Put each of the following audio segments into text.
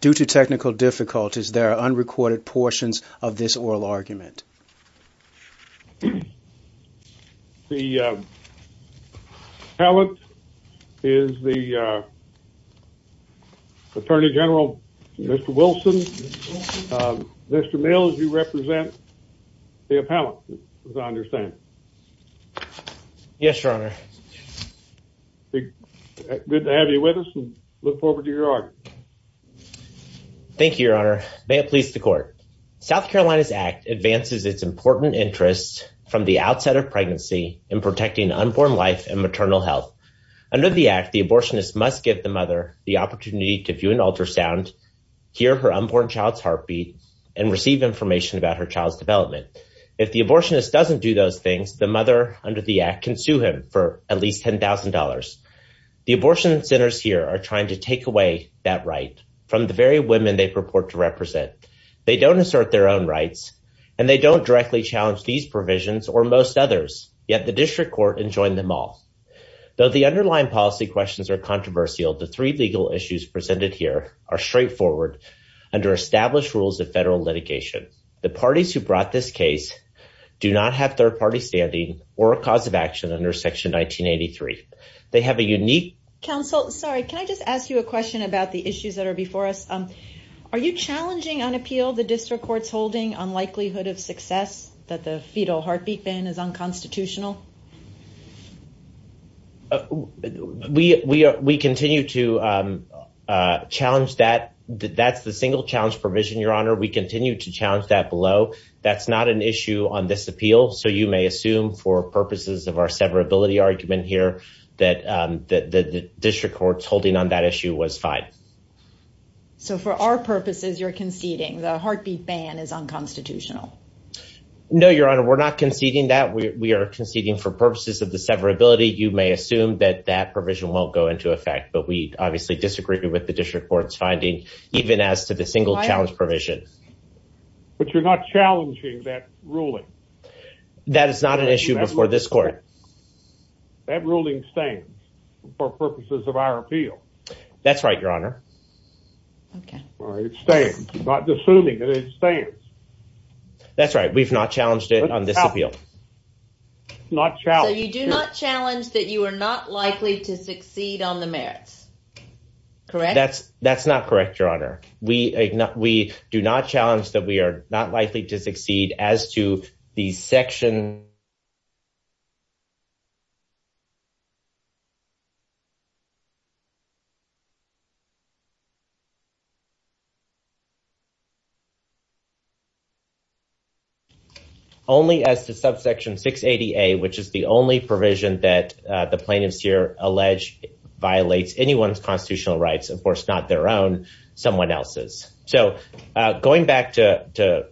Due to technical difficulties, there are unrecorded portions of this oral argument. The appellant is the Attorney General, Mr. Wilson. Mr. Mills, you represent the appellant, as I understand. Yes, Your Honor. Good to have you with us and look forward to your argument. Thank you, Your Honor. May it please the Court. South Carolina's Act advances its important interests from the outset of pregnancy in protecting unborn life and maternal health. Under the Act, the abortionist must give the mother the opportunity to view an ultrasound, hear her unborn child's heartbeat, and receive information about her child's development. If the abortionist doesn't do those things, the mother, under the Act, can sue him for at least $10,000. The abortion centers here are trying to take away that right from the very women they purport to represent. They don't assert their own rights, and they don't directly challenge these provisions or most others. Yet the District Court enjoined them all. Though the underlying policy questions are controversial, the three legal issues presented here are straightforward under established rules of federal litigation. The parties who brought this case do not have third-party standing or a cause of action under Section 1983. They have a unique... Counsel, sorry, can I just ask you a question about the issues that are before us? Are you challenging on appeal the District Court's holding on likelihood of success that the fetal heartbeat ban is unconstitutional? We continue to challenge that. That's the single challenge provision, Your Honor. We continue to challenge that below. That's not an issue on this appeal, so you may assume for purposes of our severability argument here that the District Court's holding on that issue was fine. So for our purposes, you're conceding the heartbeat ban is unconstitutional? No, Your Honor, we're not conceding that. We are conceding for purposes of the severability. You may assume that that provision won't go into effect, but we obviously disagree with the District Court's finding, even as to the single challenge provision. But you're not challenging that ruling? That is not an issue before this court. That ruling stands for purposes of our appeal. That's right, Your Honor. It stands. I'm not assuming that it stands. That's right. We've not challenged it on this appeal. So you do not challenge that you are not likely to succeed on the merits, correct? That's not correct, Your Honor. We do not challenge that we are not likely to succeed as to the Section... ...someone else's. So going back to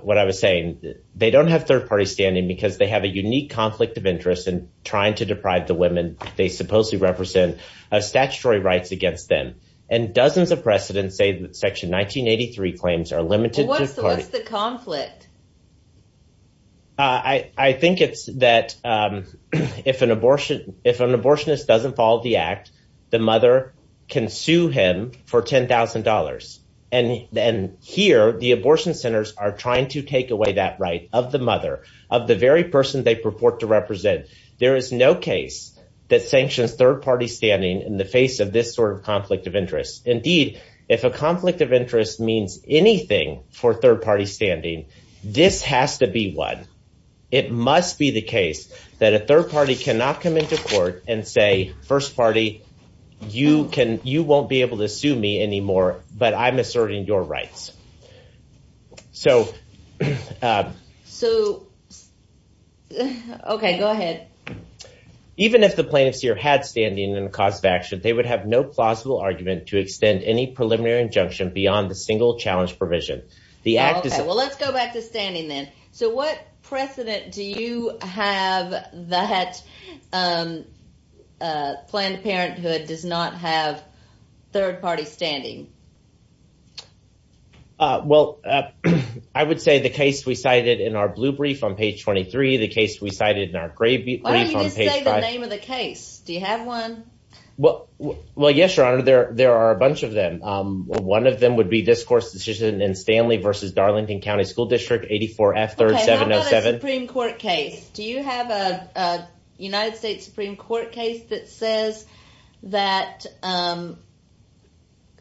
what I was saying, they don't have third parties standing because they have a unique conflict of interest in trying to deprive the women they supposedly represent of statutory rights against them. And dozens of precedents say that Section 1983 claims are limited to... What's the conflict? I think it's that if an abortionist doesn't follow the Act, the mother can sue him for $10,000. And here, the abortion centers are trying to take away that right of the mother, of the very person they purport to represent. There is no case that sanctions third-party standing in the face of this sort of conflict of interest. Indeed, if a conflict of interest means anything for third-party standing, this has to be one. It must be the case that a third party cannot come into court and say, First party, you won't be able to sue me anymore, but I'm asserting your rights. So... So... Okay, go ahead. Even if the plaintiff's ear had standing in the cause of action, they would have no plausible argument to extend any preliminary injunction beyond the single challenge provision. Well, let's go back to standing then. So what precedent do you have that Planned Parenthood does not have third-party standing? Well, I would say the case we cited in our blue brief on page 23, the case we cited in our gray brief on page 5... Why don't you just say the name of the case? Do you have one? Well, yes, Your Honor. There are a bunch of them. One of them would be this court's decision in Stanley v. Darlington County School District, 84F 3rd 707. Do you have a United States Supreme Court case that says that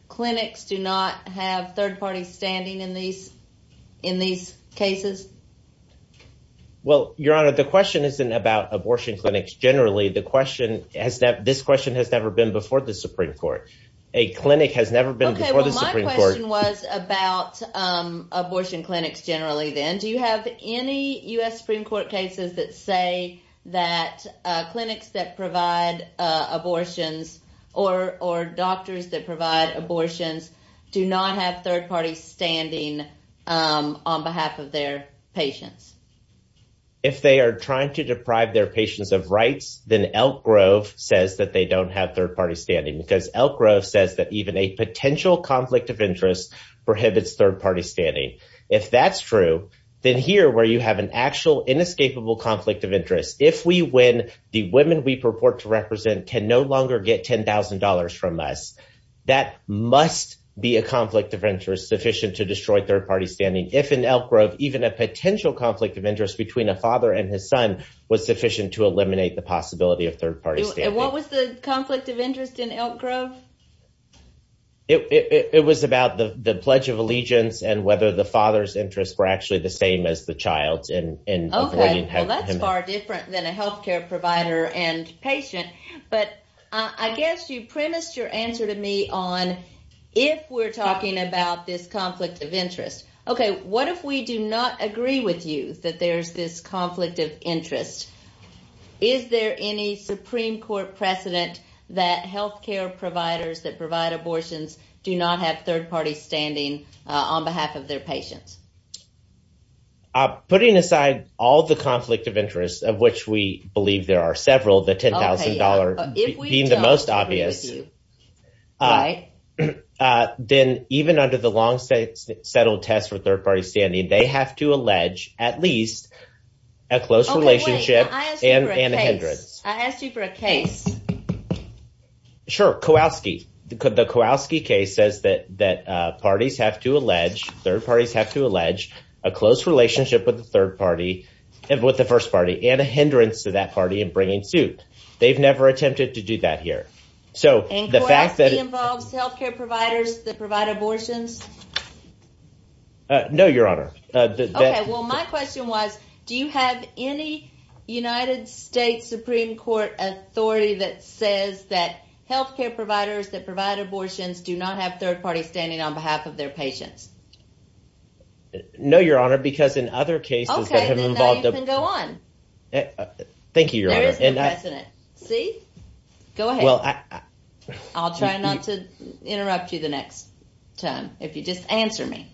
clinics do not have third-party standing in these cases? Well, Your Honor, the question isn't about abortion clinics generally. This question has never been before the Supreme Court. A clinic has never been before the Supreme Court. Okay, well, my question was about abortion clinics generally then. Do you have any U.S. Supreme Court cases that say that clinics that provide abortions or doctors that provide abortions do not have third-party standing on behalf of their patients? If they are trying to deprive their patients of rights, then Elk Grove says that they don't have third-party standing because Elk Grove says that even a potential conflict of interest prohibits third-party standing. If that's true, then here where you have an actual inescapable conflict of interest, if we win, the women we purport to represent can no longer get $10,000 from us. That must be a conflict of interest sufficient to destroy third-party standing. If in Elk Grove, even a potential conflict of interest between a father and his son was sufficient to eliminate the possibility of third-party standing. What was the conflict of interest in Elk Grove? It was about the Pledge of Allegiance and whether the father's interests were actually the same as the child's. Okay, well, that's far different than a healthcare provider and patient. But I guess you premised your answer to me on if we're talking about this conflict of interest. Okay, what if we do not agree with you that there's this conflict of interest? Is there any Supreme Court precedent that healthcare providers that provide abortions do not have third-party standing on behalf of their patients? Putting aside all the conflict of interest, of which we believe there are several, the $10,000 being the most obvious, then even under the long-settled test for third-party standing, they have to allege at least a close relationship and a hindrance. I asked you for a case. Sure, Kowalski. The Kowalski case says that parties have to allege, third parties have to allege, a close relationship with the first party and a hindrance to that party in bringing suit. They've never attempted to do that here. And Kowalski involves healthcare providers that provide abortions? No, Your Honor. Okay, well my question was, do you have any United States Supreme Court authority that says that healthcare providers that provide abortions do not have third-party standing on behalf of their patients? No, Your Honor, because in other cases that have involved… Okay, then now you can go on. Thank you, Your Honor. There is no precedent. See? Go ahead. I'll try not to interrupt you the next time if you just answer me.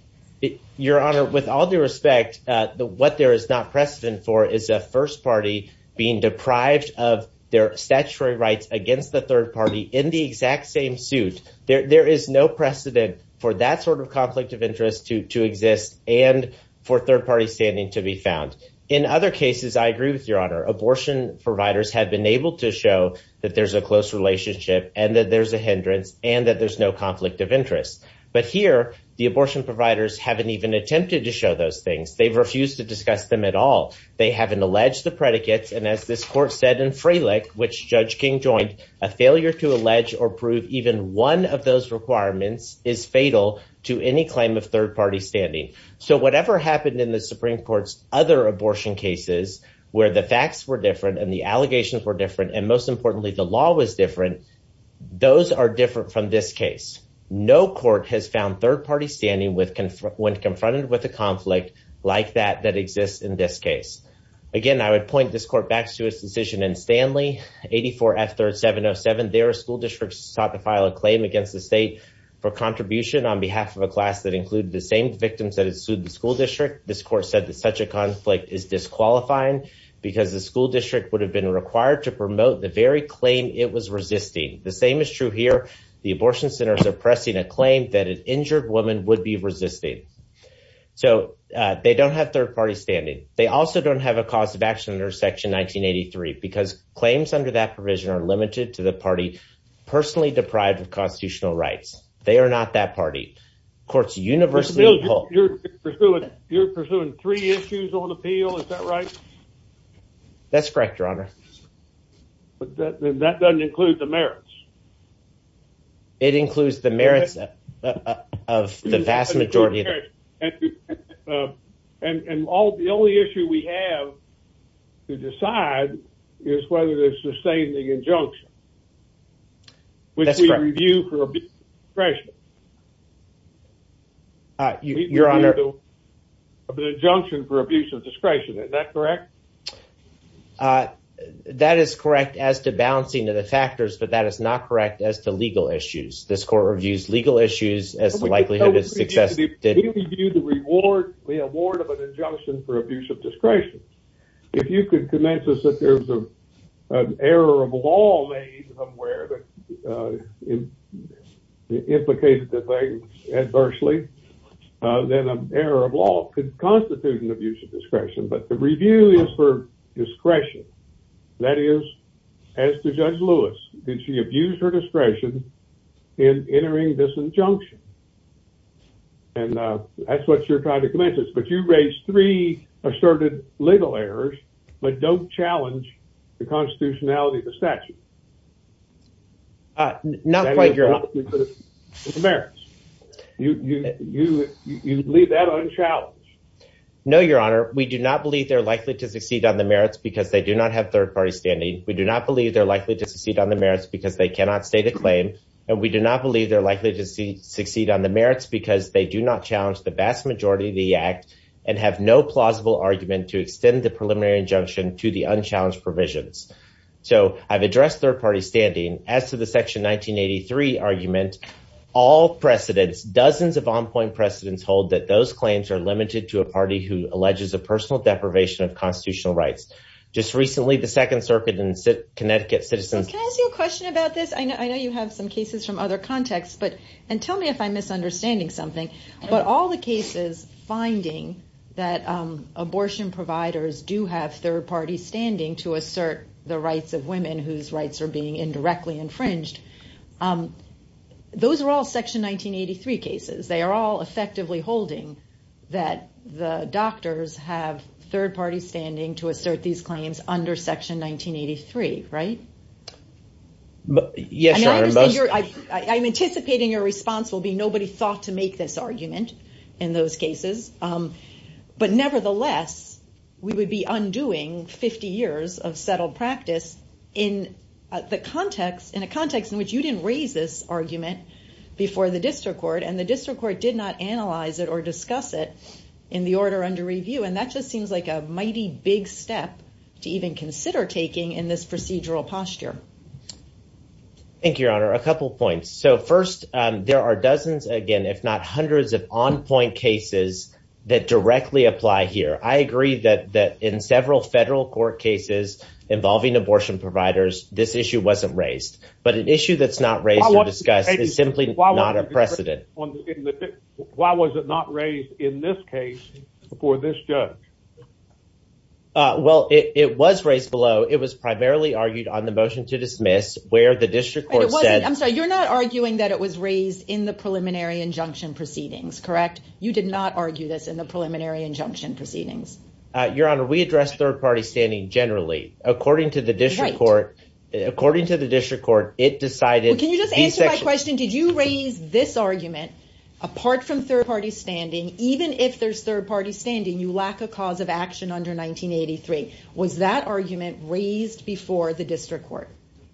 Your Honor, with all due respect, what there is not precedent for is a first party being deprived of their statutory rights against the third party in the exact same suit. There is no precedent for that sort of conflict of interest to exist and for third-party standing to be found. In other cases, I agree with Your Honor, abortion providers have been able to show that there's a close relationship and that there's a hindrance and that there's no conflict of interest. But here, the abortion providers haven't even attempted to show those things. They've refused to discuss them at all. They haven't alleged the predicates. And as this court said in Freilich, which Judge King joined, a failure to allege or prove even one of those requirements is fatal to any claim of third-party standing. So whatever happened in the Supreme Court's other abortion cases, where the facts were different and the allegations were different, and most importantly, the law was different, those are different from this case. No court has found third-party standing when confronted with a conflict like that that exists in this case. Again, I would point this court back to its decision in Stanley 84 F 3rd 707. There, school districts sought to file a claim against the state for contribution on behalf of a class that included the same victims that had sued the school district. This court said that such a conflict is disqualifying because the school district would have been required to promote the very claim it was resisting. The same is true here. The abortion centers are pressing a claim that an injured woman would be resisting. So they don't have third-party standing. They also don't have a cause of action under Section 1983 because claims under that provision are limited to the party personally deprived of constitutional rights. They are not that party. It's universally appalled. You're pursuing three issues on appeal, is that right? That's correct, Your Honor. But that doesn't include the merits. It includes the merits of the vast majority. And the only issue we have to decide is whether to sustain the injunction. That's correct. That is correct as to balancing of the factors, but that is not correct as to legal issues. This court reviews legal issues as the likelihood of success. We review the reward of an injunction for abuse of discretion. If you could convince us that there's an error of law made somewhere that would be helpful. If you implicated the thing adversely, then an error of law could constitute an abuse of discretion. But the review is for discretion. That is, as to Judge Lewis. Did she abuse her discretion in entering this injunction? And that's what you're trying to convince us. But you raised three asserted legal errors, but don't challenge the constitutionality of the statute. Not quite, Your Honor. The merits. You leave that unchallenged. No, Your Honor. We do not believe they're likely to succeed on the merits because they do not have third-party standing. We do not believe they're likely to succeed on the merits because they cannot state a claim. And we do not believe they're likely to succeed on the merits because they do not challenge the vast majority of the act and have no plausible argument to extend the preliminary injunction to the unchallenged provisions. So I've addressed third-party standing. As to the Section 1983 argument, all precedents, dozens of on-point precedents, hold that those claims are limited to a party who alleges a personal deprivation of constitutional rights. Just recently, the Second Circuit in Connecticut citizens... Can I ask you a question about this? I know you have some cases from other contexts, and tell me if I'm misunderstanding something. But all the cases finding that abortion providers do have third-party standing to assert the rights of women whose rights are being indirectly infringed, those are all Section 1983 cases. They are all effectively holding that the doctors have third-party standing to assert these claims under Section 1983, right? Yes, Your Honor. I'm anticipating your response will be nobody thought to make this argument in those cases. But nevertheless, we would be undoing 50 years of settled practice in a context in which you didn't raise this argument before the district court, and the district court did not analyze it or discuss it in the order under review. And that just seems like a mighty big step to even consider taking in this procedural posture. Thank you, Your Honor. A couple points. So first, there are dozens, again, if not hundreds of on-point cases that directly apply here. I agree that in several federal court cases involving abortion providers, this issue wasn't raised. But an issue that's not raised or discussed is simply not a precedent. Why was it not raised in this case before this judge? Well, it was raised below. It was primarily argued on the motion to dismiss where the district court said... I'm sorry, you're not arguing that it was raised in the preliminary injunction proceedings, correct? You did not argue this in the preliminary injunction proceedings. Your Honor, we address third-party standing generally. According to the district court... According to the district court, it decided... Well, can you just answer my question? Did you raise this argument apart from third-party standing, even if there's third-party standing, you lack a cause of action under 1983. Was that argument raised before the district court?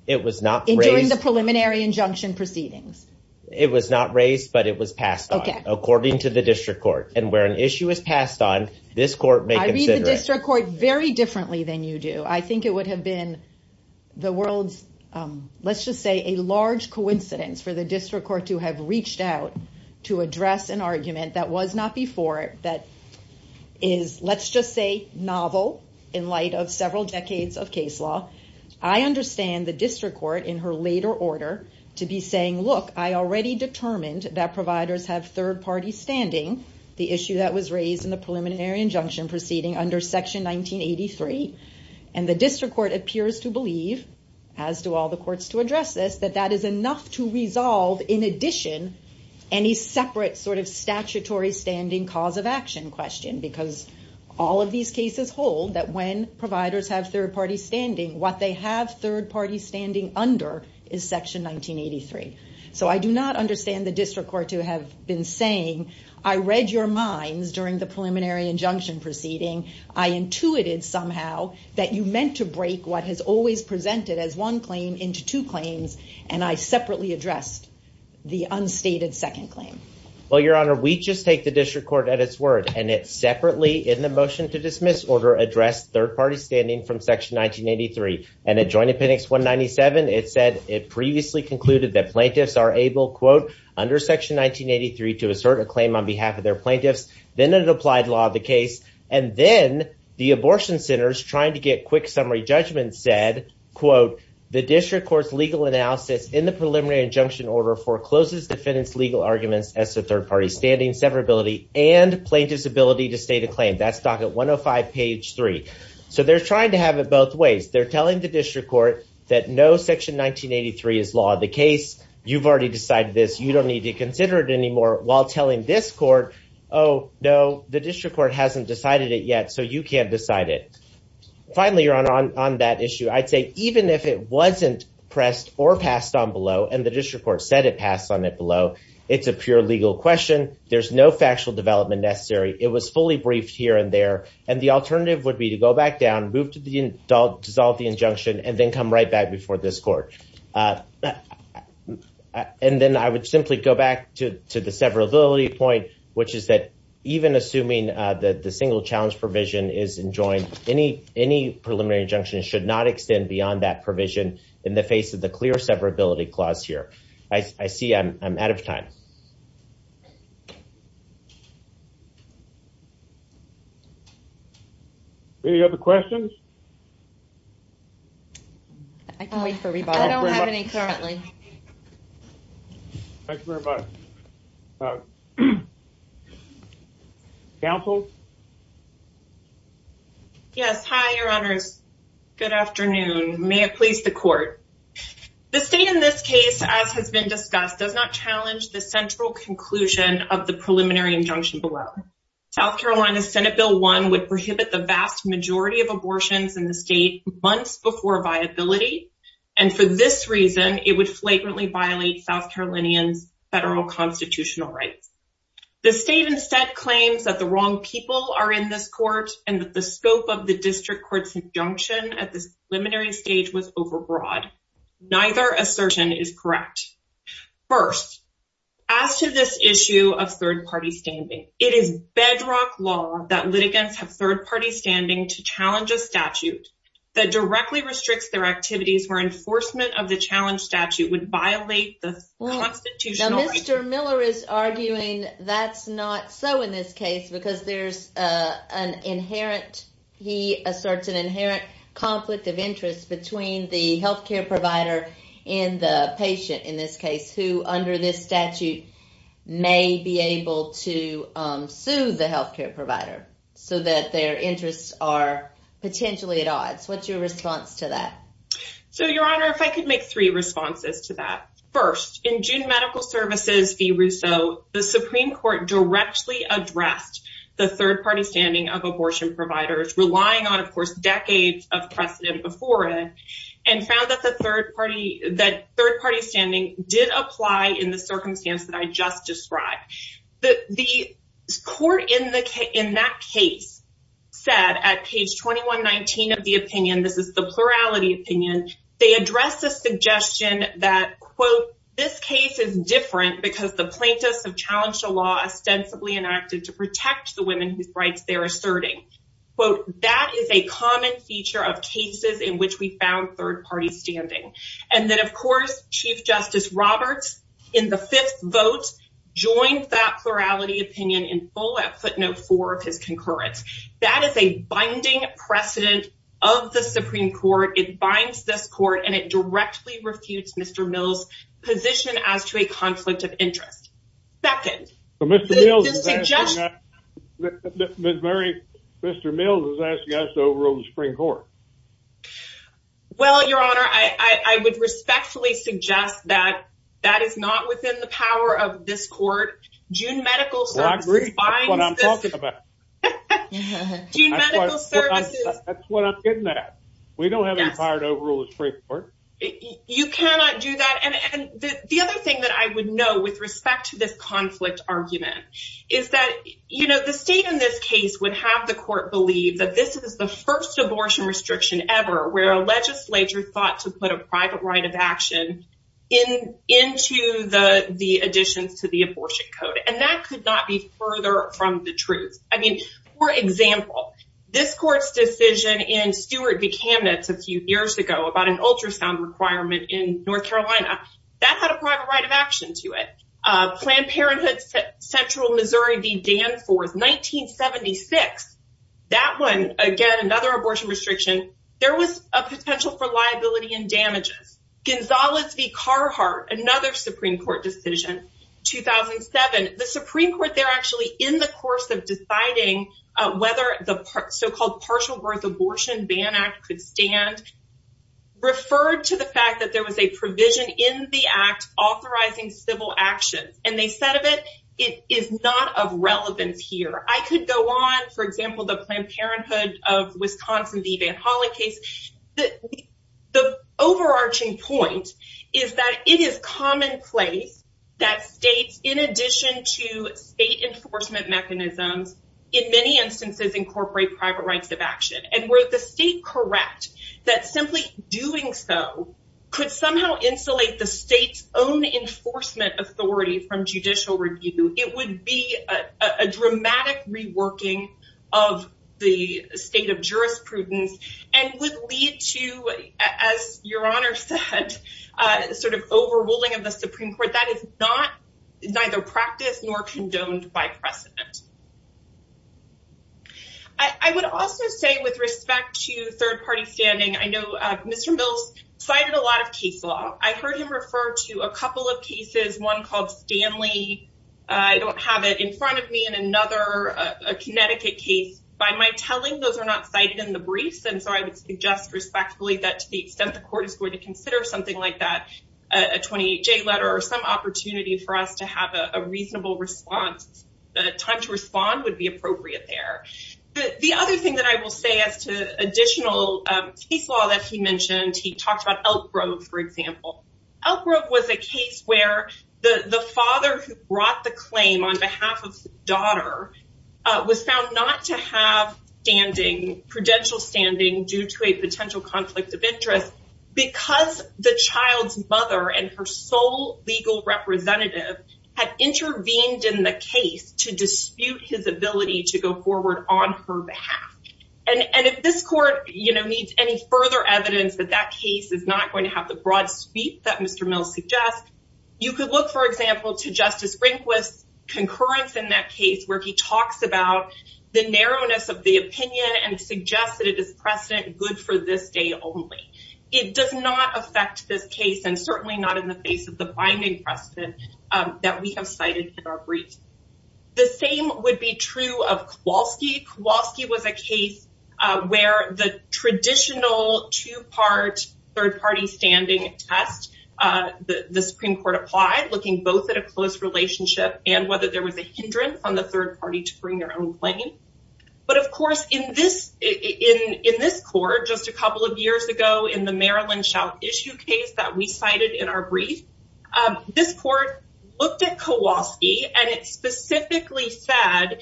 It was not raised... During the preliminary injunction proceedings. It was not raised, but it was passed on. According to the district court. And where an issue is passed on, this court may consider it. I read the district court very differently than you do. I think it would have been the world's, let's just say, a large coincidence for the district court to have reached out to address an argument that was not before it, that is, let's just say, novel in light of several decades of case law. I understand the district court, in her later order, to be saying, look, I already determined that providers have third-party standing. The issue that was raised in the preliminary injunction proceeding under section 1983. And the district court appears to believe, as do all the courts to address this, that that is enough to resolve, in addition, any separate sort of statutory standing cause of action question. Because all of these cases hold that when providers have third-party standing, what they have third-party standing under is section 1983. So I do not understand the district court to have been saying, I read your minds during the preliminary injunction proceeding. I intuited somehow that you meant to break what has always presented as one claim into two claims, and I separately addressed the unstated second claim. Well, Your Honor, we just take the district court at its word, and it separately, in the motion to dismiss order, addressed third-party standing from section 1983. Plaintiffs are able, quote, under section 1983 to assert a claim on behalf of their plaintiffs, then an applied law of the case. And then the abortion centers, trying to get quick summary judgment, said, quote, the district court's legal analysis in the preliminary injunction order forecloses defendants' legal arguments as to third-party standing, severability, and plaintiff's ability to state a claim. That's docket 105, page 3. So they're trying to have it both ways. They're telling the district court you've already decided this, you don't need to consider it anymore, while telling this court, oh, no, the district court hasn't decided it yet, so you can't decide it. Finally, Your Honor, on that issue, I'd say even if it wasn't pressed or passed on below, and the district court said it passed on it below, it's a pure legal question. There's no factual development necessary. It was fully briefed here and there, and the alternative would be to go back down, move to the, dissolve the injunction, and then come right back before this court. And then I would simply go back to the severability point, which is that even assuming that the single challenge provision is enjoined, any preliminary injunction should not extend beyond that provision in the face of the clear severability clause here. I see I'm out of time. Any other questions? I can wait for rebuttal. I don't have any currently. Thank you very much. Counsel? Yes, hi, Your Honors. Good afternoon. May it please the court. The state in this case, as has been discussed, does not challenge the central conclusion of the preliminary injunction below. South Carolina's Senate Bill 1 would prohibit the vast majority of abortions in the state months before viability, and for this reason, it would flagrantly violate South Carolinians' federal constitutional rights. The state instead claims that the wrong people are in this court and that the scope of the district court's injunction at this preliminary stage was overbroad. Neither assertion is correct. First, as to this issue of third-party standing, it is bedrock law that litigants have third-party standing to challenge a statute that directly restricts their activities and that violation of the challenge statute would violate the constitutional rights. Now, Mr. Miller is arguing that's not so in this case because there's an inherent, he asserts an inherent, conflict of interest between the health care provider and the patient in this case who, under this statute, may be able to sue the health care provider so that their interests are potentially at odds. What's your response to that? I'll make three responses to that. First, in June Medical Services v. Russo, the Supreme Court directly addressed the third-party standing of abortion providers, relying on, of course, decades of precedent before it, and found that the third-party, that third-party standing did apply in the circumstance that I just described. The court in that case said at page 2119 of the opinion, this is the plurality opinion, a suggestion that, quote, this case is different because the plaintiffs have challenged a law ostensibly enacted to protect the women whose rights they're asserting. Quote, that is a common feature of cases in which we found third-party standing. And then, of course, Chief Justice Roberts, in the fifth vote, joined that plurality opinion in full at footnote four of his concurrence. That is a binding precedent of the Supreme Court. It binds this court, and it directly refutes Mr. Mills' position as to a conflict of interest. Second. Mr. Mills is asking us to overrule the Supreme Court. Well, Your Honor, I would respectfully suggest that that is not within the power of this court. June Medical Services That's what I'm talking about. June Medical Services That's what I'm getting at. We don't have any power to overrule the Supreme Court. You cannot do that. And the other thing that I would know with respect to this conflict argument is that, you know, the state in this case would have the court believe that this is the first abortion restriction ever where a legislature thought to put a private right of action into the additions to the abortion code. And that could not be further from the truth. I mean, for example, this court's decision in Stewart v. Kamnitz a few years ago about an ultrasound requirement in North Carolina, that had a private right of action to it. Planned Parenthood Central Missouri v. Danforth 1976 That one, again, another abortion restriction. There was a potential for liability and damages. Gonzales v. Carhartt another Supreme Court decision 2007 the Supreme Court there actually in the course of deciding whether the so-called Partial Birth Abortion Ban Act could stand referred to the fact that there was a provision in the act authorizing civil action. And they said of it, it is not of relevance here. I could go on, for example, the Planned Parenthood of Wisconsin v. Van Hollen case. The overarching point is that it is commonplace that states, in addition to state enforcement mechanisms, in many instances incorporate private rights of action. And were the state correct that simply doing so could somehow insulate the state's own enforcement authority from judicial review, it would be a dramatic reworking of the state of jurisprudence and would lead to as Your Honor said, sort of overruling of the Supreme Court. That is not neither practiced nor condoned by precedent. I would also say with respect to third party standing, I know Mr. Mills cited a lot of case law. I heard him refer to a couple of cases, one called Stanley. I don't have it in front of me in another Connecticut case. By my telling, those are not cited in the briefs. And so I would suggest respectfully that to the extent the court is going to consider something like that, a 28-J letter or some opportunity for us to have a reasonable response, a time to respond would be appropriate there. The other thing that I will say as to additional case law that he mentioned, he talked about Elk Grove, for example. Elk Grove was a case where the father who brought the claim on behalf of his daughter was found not to have standing, prudential standing due to a potential conflict of interest because the child's mother and her sole legal representative had intervened in the case to dispute his ability to go forward on her behalf. And if this court, you know, needs any further evidence that that case is not going to have the broad sweep that Mr. Mills suggests, you could look, for example, to Justice Rehnquist's concurrence in that case where he talks about the narrowness of the opinion and suggests that it is precedent good for this day only. It does not affect this case and certainly not in the face of the binding precedent that we have cited in our briefs. would be true of Kowalski. Kowalski was a case where the traditional two-part third-party standing test the Supreme Court applied, looking both at a close relationship and whether there was a hindrance on the third party to bring their own claim. But, of course, in this court just a couple of years ago in the Maryland shout issue case that we cited in our brief, this court looked at Kowalski and it specifically said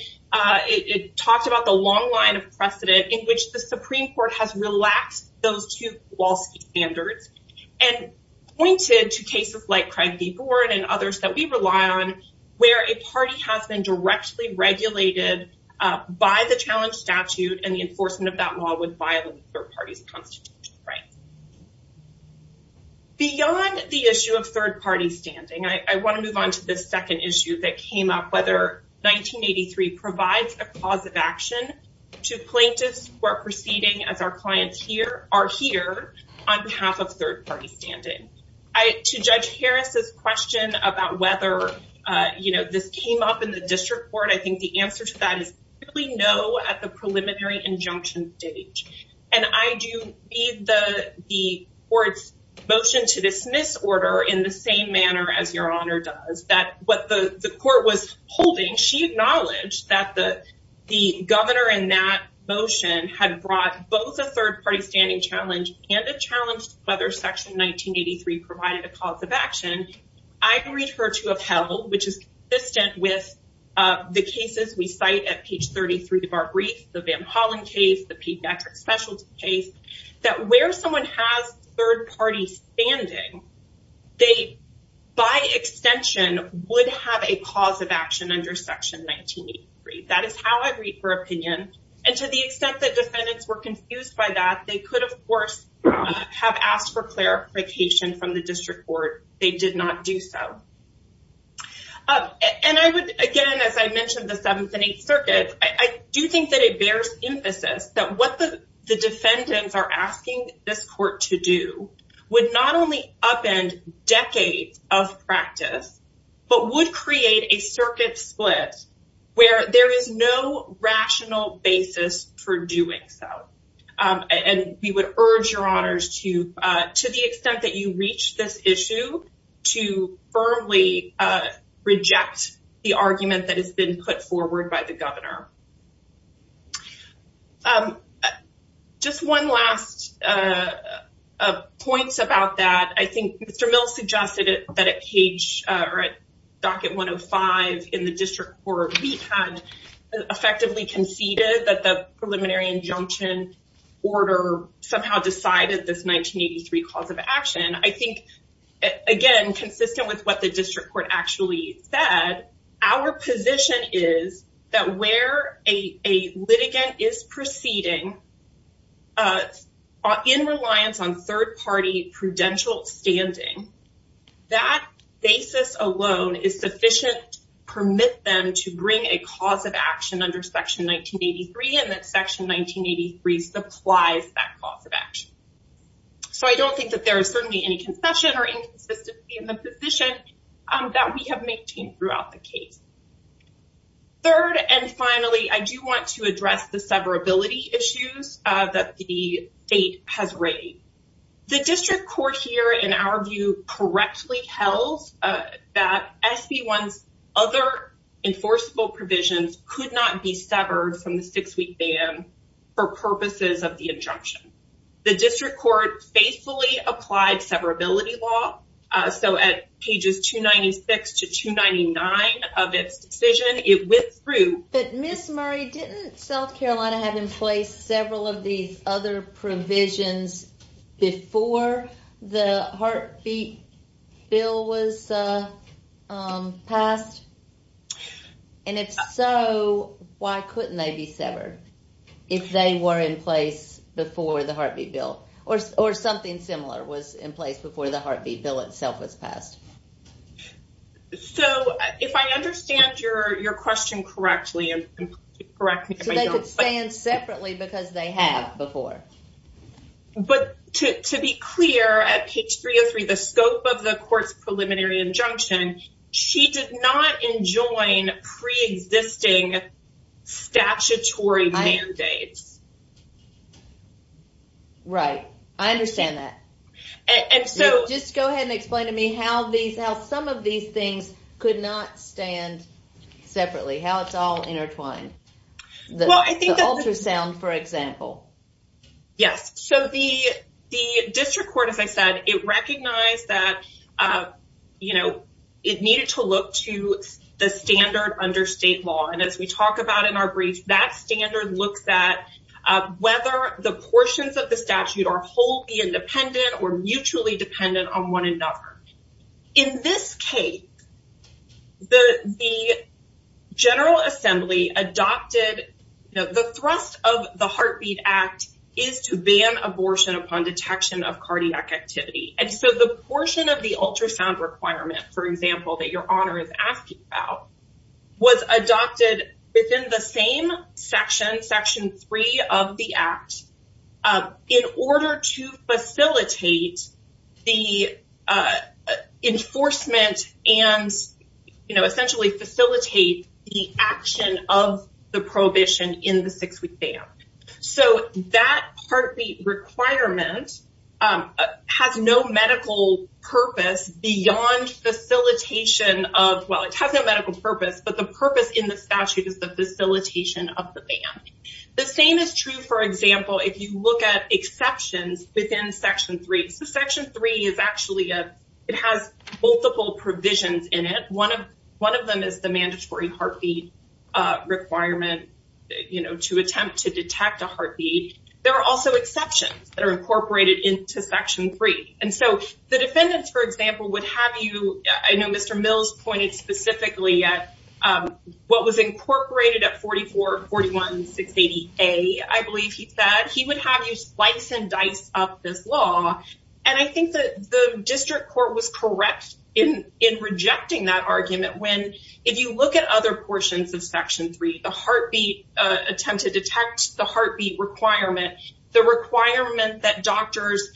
it talked about the long line of precedent in which the Supreme Court has relaxed those two Kowalski standards and pointed to cases like Craig v. Bourne and others that we rely on where a party has been directly regulated by the challenge statute and the enforcement of that law would violate the third party's constitutional right. Beyond the issue of third party standing, I want to move on to this second issue that came up, whether 1983 provides a cause of action to plaintiffs who are proceeding as our clients are here on behalf of third party standing. To Judge Harris's question about whether this came up in the district court, I think the answer to that is really no at the preliminary injunction date. And I do need the court's motion to dismiss order in the same manner as your honor does. What the court was holding, she acknowledged that the governor in that motion had brought both a third party standing challenge and a challenge whether section 1983 provided a cause of action. I prefer to have held, which is consistent with the cases we cite at page 33 of our brief, the Van Hollen case, the special case, that where someone has third party standing, they by extension would have a cause of action under section 1983. That is how I think would have handled that. If the defendants were confused by that, they could have asked for clarification from the district court. They did not do so. Again, as I mentioned the 7th and 8th circuits, I do think it bears emphasis that what the defendants are asking this court to do would not only upend decades of practice, but would create a circuit split where there is no rational basis for doing so. And we would urge your honors to the extent that you reach this issue to firmly reject the Thank you, Mr. Miller. Just one last points about that. I think Mr. Miller suggested that at docket 105 in the district court, we had effectively conceded that the preliminary injunction order somehow decided that this 1983 cause of action, I think again, consistent with what the district court actually said, our position is that where a litigant is proceeding in reliance on third party prudential standing, that basis alone is sufficient to permit them to bring a that is consistent with section 1983 and that section 1983 supplies that cause of action. I don't think there is any concession or inconsistency in the position that we have maintained throughout the case. Third and finally, I do want to address the severability issues that the state has raised. The district court here in our view correctly tells that SB1's other enforceable provisions could not be severed from the six-week ban for purposes of the injunction. The district court faithfully applied severability law. So at pages 296 to 299 of its decision, it went through. But Ms. Murray, didn't South Carolina have in place several of these other provisions before the heartbeat bill was passed? And if so, why couldn't they be severed if they were in place before the heartbeat bill or something similar was in place before the heartbeat bill itself was passed? So if I understand your question correctly, correct me if I don't. So they could stand separately because they have before. But to be clear, at page 303, the scope of the court's preliminary injunction, she did not enjoin preexisting statutory mandates. Right. I understand that. Just go ahead and explain to me how some of these things could not stand separately, how it's all intertwined. The ultrasound, for example. Yes. So the district court, as I said, it recognized that, you know, it needed to look to the standard under state law. And as we talk about in our brief, that standard looks at whether the portions of the statute are wholly independent or mutually dependent on one another. In this case, the section 3 of the act is to ban abortion upon detection of cardiac activity. So the portion of the ultrasound requirement, for example, that your honor is asking about, was adopted within the same section, section 3 of the act, in order to facilitate the enforcement and essentially facilitate the action of the prohibition in the six-week ban. So that requirement has no medical purpose beyond facilitation of, well, it has no medical purpose, but the purpose in the statute is the facilitation of the ban. The same is true, for example, if you look at exceptions within section 3. So section 3 is actually, it has multiple provisions in it. One of them is the mandatory heartbeat requirement to attempt to detect a heartbeat. There are also exceptions that are incorporated into section 3. And so the district court said he would have you slice and dice up this law. And I think the district court was correct in rejecting that argument when if you look at other portions of section 3, the heartbeat attempt to detect the heartbeat requirement, the requirement that doctors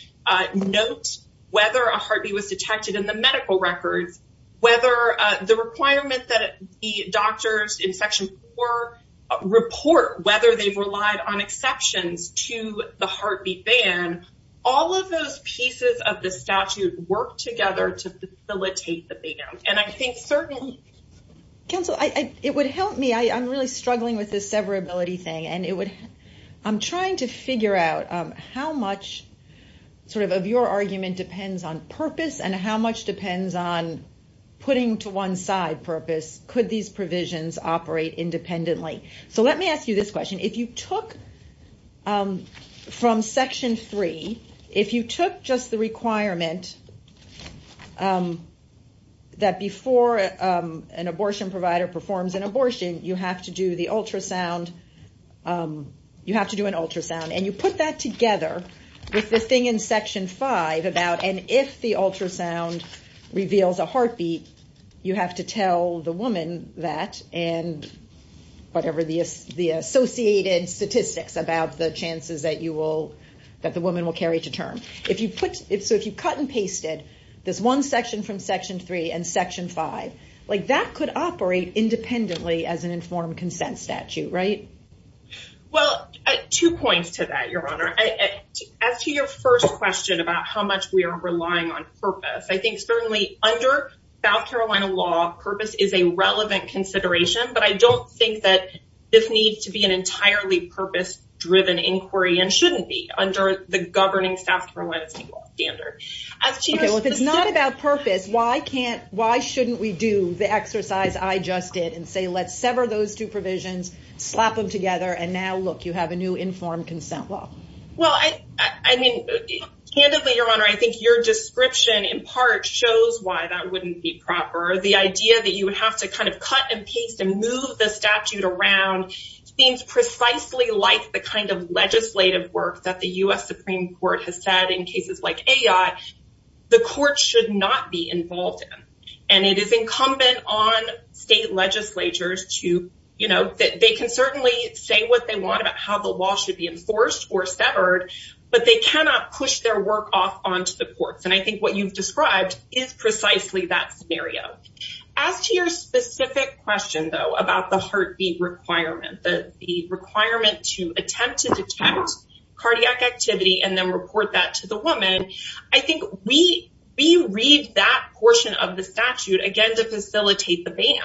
note whether a heartbeat was detected in the medical records, whether the requirement that the doctors in section 4 report whether they have relied on exceptions to the heartbeat ban, all of those pieces of the statute work together to facilitate the ban. And I think certainly it would help me. I'm really struggling with this severability thing. I'm trying to figure out how much of your argument depends on purpose and how much depends on putting to one side purpose. Could these provisions operate independently? So let me ask you this question. If you took from section 3, if you took just the requirement that before an abortion provider performs an abortion, you have to do the ultrasound, you put that together with the thing in section 5 about and if the ultrasound reveals a heartbeat, you have to tell the woman that and whatever the associated statistics about the chances that you will, that the woman will carry to term. So if you cut and paste it, this one section from section 3 and section 5, that could operate independently as an informed consent statute, right? Well, two points to that, your Honor. As to your first question about how much we are relying on purpose, I think certainly under South Carolina law, purpose is a relevant consideration, but I don't think that this needs to be an entirely purpose-driven inquiry and shouldn't be under the governing South Carolina law standard. If it's not about purpose, why shouldn't we do the exercise I just did and say let's sever those two provisions, slap them together, and now look, you have a new informed consent law? Well, I mean, candidly, your Honor, I think your description in part shows why that wouldn't be proper. The idea that you would have to kind of cut and paste and move the statute around seems precisely like the kind of legislative work that the U.S. Supreme Court has said in cases like AI, the court should not be involved in, and it is incumbent on state legislatures to, you know, that they can certainly say what they want about how the law should be enforced or severed, but they cannot push their work off onto the courts. And I think what you've described is precisely that scenario. As to your specific question, though, about the heartbeat requirement, the requirement to attempt to detect cardiac activity and then report that to the woman, I think we read that portion of the statute again to facilitate the ban.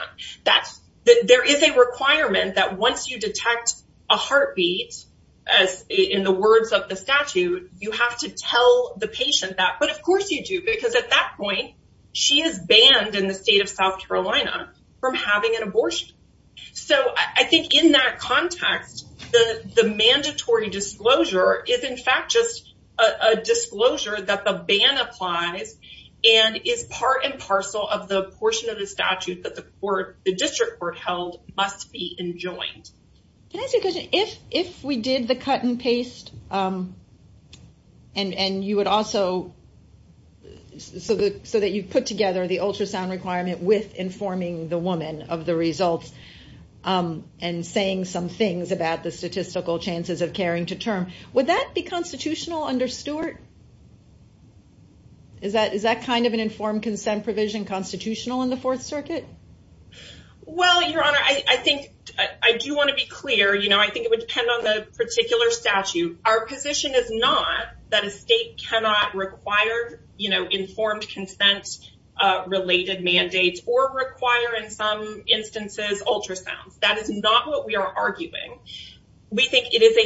There is a requirement that once you detect a cardiac you must report that. But of course you do, because at that point, she is banned in the state of South Carolina from having an abortion. So I think in that context, the mandatory disclosure is in fact just a disclosure that the ban applies and is part and parcel of the portion of the statute that the district court held must be enjoined. If we did the cut and paste, and you would also so that you put together the ultrasound requirement with informing the woman of the results and saying some things about the statistical chances of caring to term, would that be constitutional under Stewart? Is that kind of an informed consent provision constitutional in the Fourth Circuit? Well, Your Honor, I do want to be clear. I think it would depend on the particular statute. Our position is not that a state cannot require informed consent related mandates or require, in some instances, ultrasounds. That is not what we are arguing. We think it is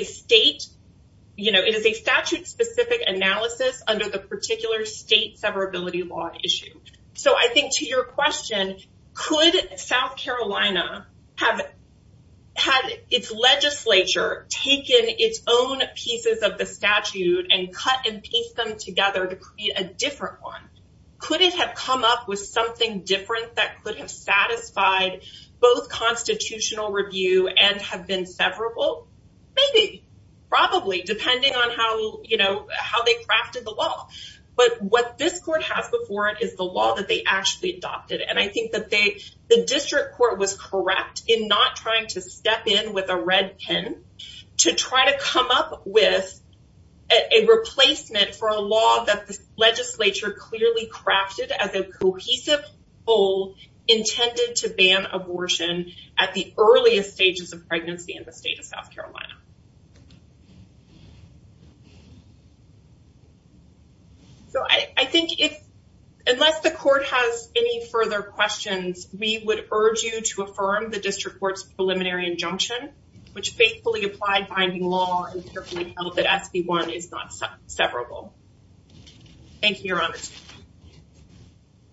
a statute-specific analysis under the particular state severability law issue. So I think to your question, could South Carolina have had its legislature taken its own pieces of the statute and cut and paste them in a could have been different, that could have satisfied both constitutional review and have been severable? Maybe, probably, depending on how they crafted the law. But what this court has before it is the law that they actually adopted. I think the district court was correct in not trying to step in with a red pen to try to come up with a replacement for a law that the legislature clearly crafted as a cohesive goal intended to ban abortion at the earliest stages of pregnancy in the state of South Carolina. So I think if unless the court has any further questions, we would urge you to affirm the district court's preliminary injunction, which faithfully applied binding law and carefully held that SB 1 is not severable. Thank you, Your Honor.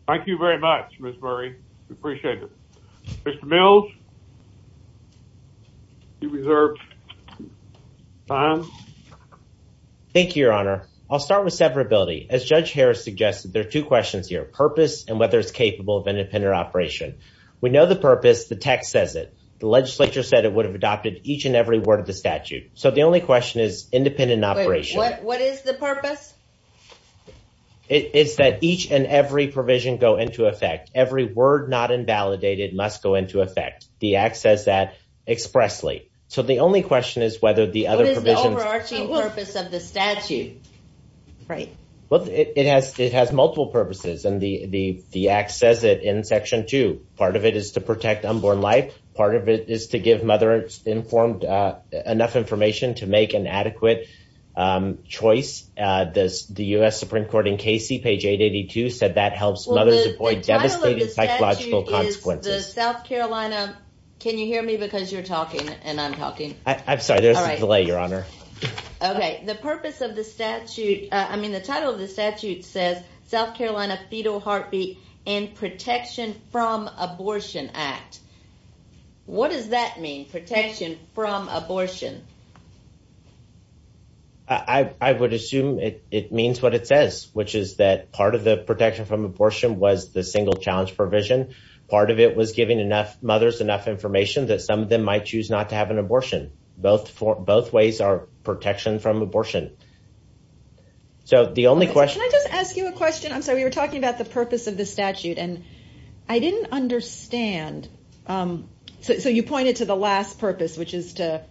Thank you very much, Ms. Murray. We appreciate it. Mr. Mills, you reserve time. Thank you, Your Honor. I'll start with severability. As Judge Harris suggested, there are two questions here, purpose and whether it's capable of independent operation. We know the purpose. The text says it. The legislature said it would have adopted each and every word of the statute. The only question is independent operation. What is the purpose? It's that each and every provision go into effect. Every word not invalidated must go into effect. The act says that expressly. The only question is whether the other provisions What is the overarching purpose of the statute? It has multiple purposes. Part of it is to protect unborn life. Part of it is to give mother enough information to make an adequate choice. The U.S. Supreme Court in Casey said that helps mothers. The title of the statute is South Carolina fetal heartbeat and protection from abortion act. What does that mean? Protection from abortion. I would assume it means what it says. Part of the protection from abortion was the single challenge provision. Some might choose not to have an abortion. Both ways are protection from abortion. We were talking about the purpose of the statute. I didn't understand. You pointed to the last purpose which is to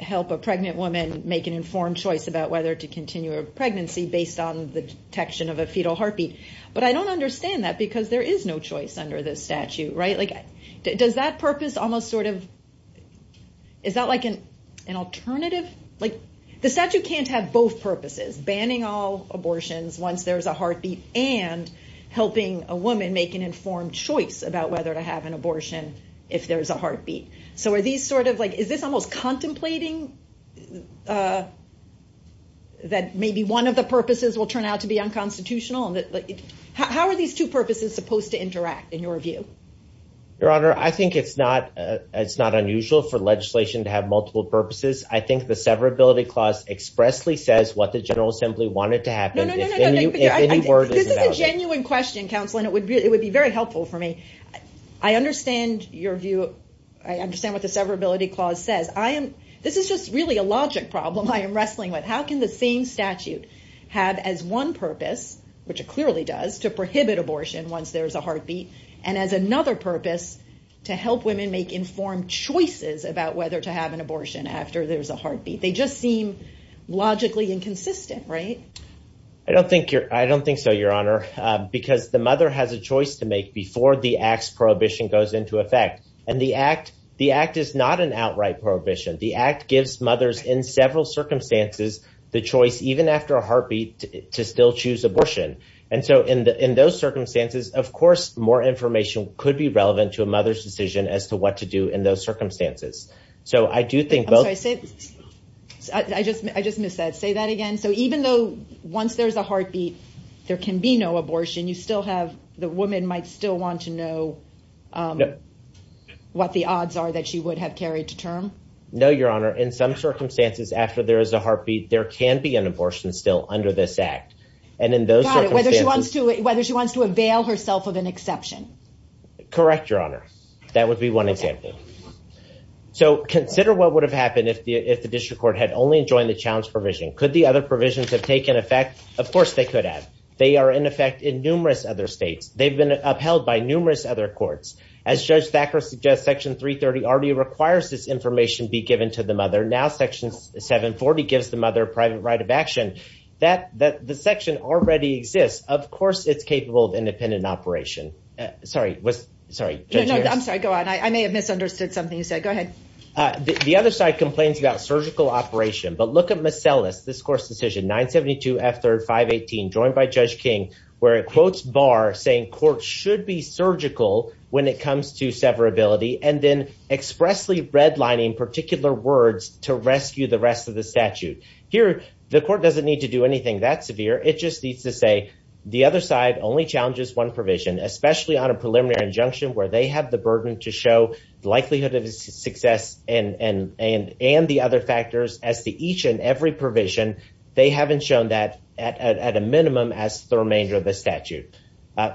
help a pregnant woman make an informed choice about whether to continue a pregnancy based on the detection of a fetal heartbeat. I don't understand that because there is no choice under the statute. Does that purpose have both purposes? Banning all abortions once there is a heartbeat and helping a woman make an informed choice about whether to have an abortion if there is a heartbeat. Is this contemplating that maybe one of the purposes will turn out to be unconstitutional? How are these two purposes supposed to interact in your view? Your Honor, I think it's not unusual for legislation to have multiple purposes. I think the severability clause expressly says what the General Assembly wanted to happen. This is a genuine question. I understand what the severability clause says. This is just really a logic problem I am wrestling with. How can the same statute have as one purpose to prohibit abortion once there is a heartbeat and as another purpose to help women make informed choices about whether to have an abortion after there is a heartbeat? They just seem logically inconsistent, right? I don't think so, Your Honor, because the mother has a choice to make before the Act's prohibition goes into effect. The Act is not an outright prohibition. The Act gives mothers in several circumstances the choice even after a heartbeat to still choose abortion. In those circumstances, of course, more information could be relevant to a mother's decision as to what to do in those circumstances. I just missed that. Say that again. Even though once there is a heartbeat, there can be no abortion, the woman might still want to know what the odds are that she would have carried to term? No, correct, Your Honor. That would be one example. So, consider what would have happened if the District Court had only enjoyed the challenge provision. Could the other provisions have taken effect? Of course, they could have. They are in effect in numerous other states. They have been upheld by numerous other courts. As Judge Thacker suggests, section 330 requires this information to be given to the mother. Section 740 gives the mother a private right of action. The section already exists. Of course, it is capable of independent operation. The other provision only provision. It only challenges one provision, especially on a preliminary injunction where they have the burden to show the likelihood of success and the other factors as to each and every provision. They haven't shown that at a minimum as the remainder of the statute. I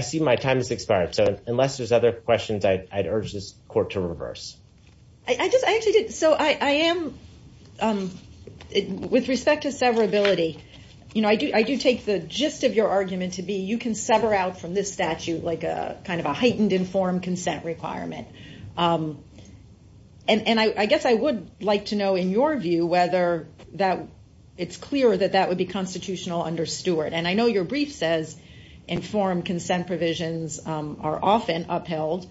see my time has expired. Unless there are other questions, I urge this court to reverse. With respect to severability, I do take the gist of your argument to be you can sever out from this statute like a heightened informed consent requirement. I guess I would like to know in your view whether it's clear that that would be constitutional under Stewart. I know your brief says informed consent provisions are often upheld,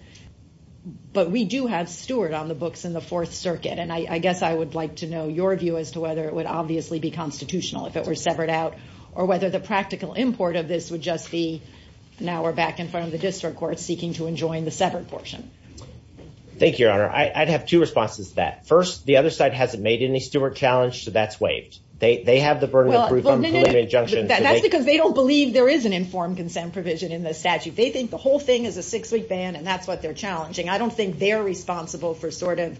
but we do have Stewart on the books in the Fourth Circuit. I guess I would like to know your view as to whether it would be constitutional if it were severed out. Now we're back in front of the district court seeking to enjoin the severed portion. Thank you, Your Honor. I'd have two responses to that. First, the other side hasn't made any Stewart challenge so that's waived. They have the burden of proof on preliminary injunctions. That's because they don't believe there is an informed consent provision in the statute. They think the whole thing is a six-week ban and that's what they're challenging. I don't think they're responsible for sort of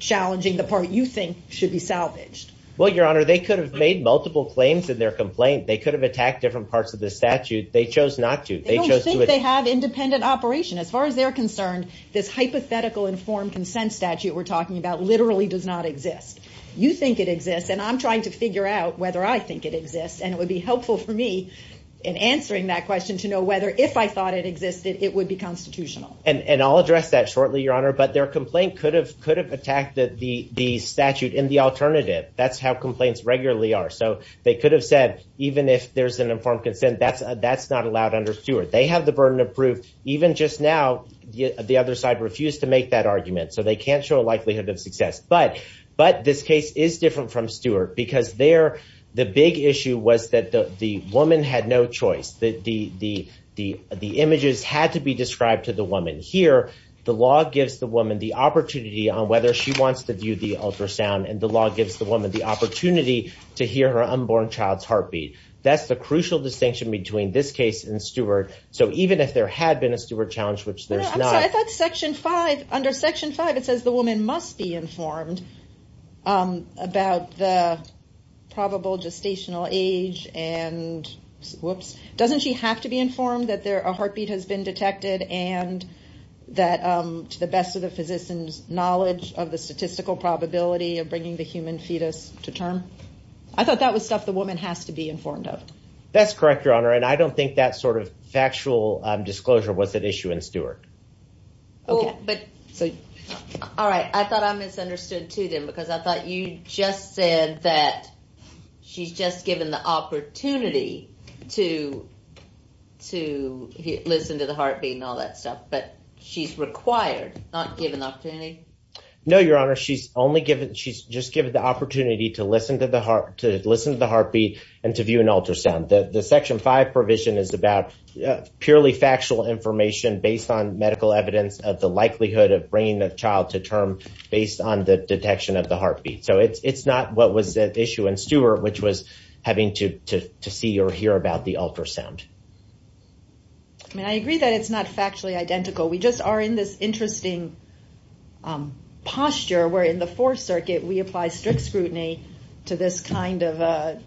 challenging the part you think should be salvaged. Well, Your Honor, they could have made multiple claims in their complaint. They could have attacked different parts of the statute. They chose not to. They don't think they have independent operation. As far as they're concerned, this hypothetical informed consent statute literally does not exist. You think it exists and I'm trying to figure out whether I think it exists and it would be helpful for me to know whether if I thought it existed it would be constitutional. And I'll address that shortly, Your Honor, but their complaint could have attacked the statute in the alternative. That's how complaints regularly are. They could have said even if there's an informed consent, that's not allowed under statute. The other side refused to make that argument. But this case is different from Stewart because the big issue was that the woman had no choice. The images had to be described to the woman. Here, the law gives the woman the opportunity to hear her unborn child's story. Even if there had been a challenge. Under section 5, it says the woman must be informed about the probable gestational age. Doesn't she have to be informed that a heartbeat has been detected and to the best of the physician's knowledge of the statistical probability of bringing the human fetus to term? I thought that was woman has to be informed of. That's correct, Your Honor. I don't think that sort of factual disclosure was an issue in Stewart. All right. I thought I misunderstood too then because I thought you just said that she's just given the opportunity to listen to the heartbeat and all that stuff. But she's required, not given the opportunity? No, Your Honor. She's just given the opportunity to listen to the heartbeat and to view an ultrasound. The section 5 provision is about purely factual information based on medical evidence of the patient having to see or hear about the ultrasound. I agree that it's not factually identical. We just are in this interesting posture where in the Fourth Circuit we apply strict scrutiny to this kind of...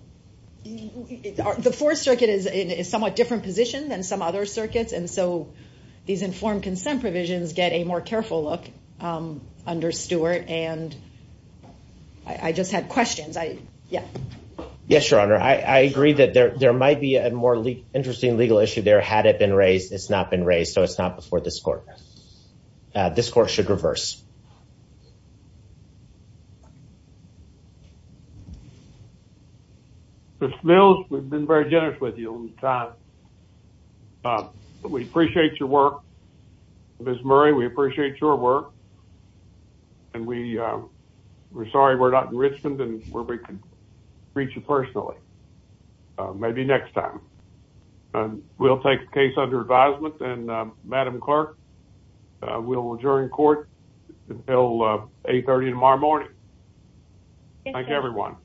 The Fourth Circuit is in a somewhat different position than some other circuits and so these informed consent provisions get a more careful look under Stuart. I just had questions. Yes, Your Honor. I agree that there might be a more interesting legal issue there had it been raised. It's not been raised so it's not before this Court. This Court has not raised it. We appreciate your work. Ms. Murray, we appreciate your work and we're sorry we're not in Richmond and we can't reach you personally. Maybe next time. We'll take the case under advisement and Madam Clerk, we'll adjourn the Court until 8.30 tomorrow morning. Thank you, everyone.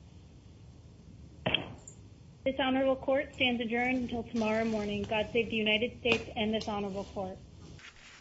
This Honorable Court stands adjourned until tomorrow morning. God save the United States and this Honorable Court.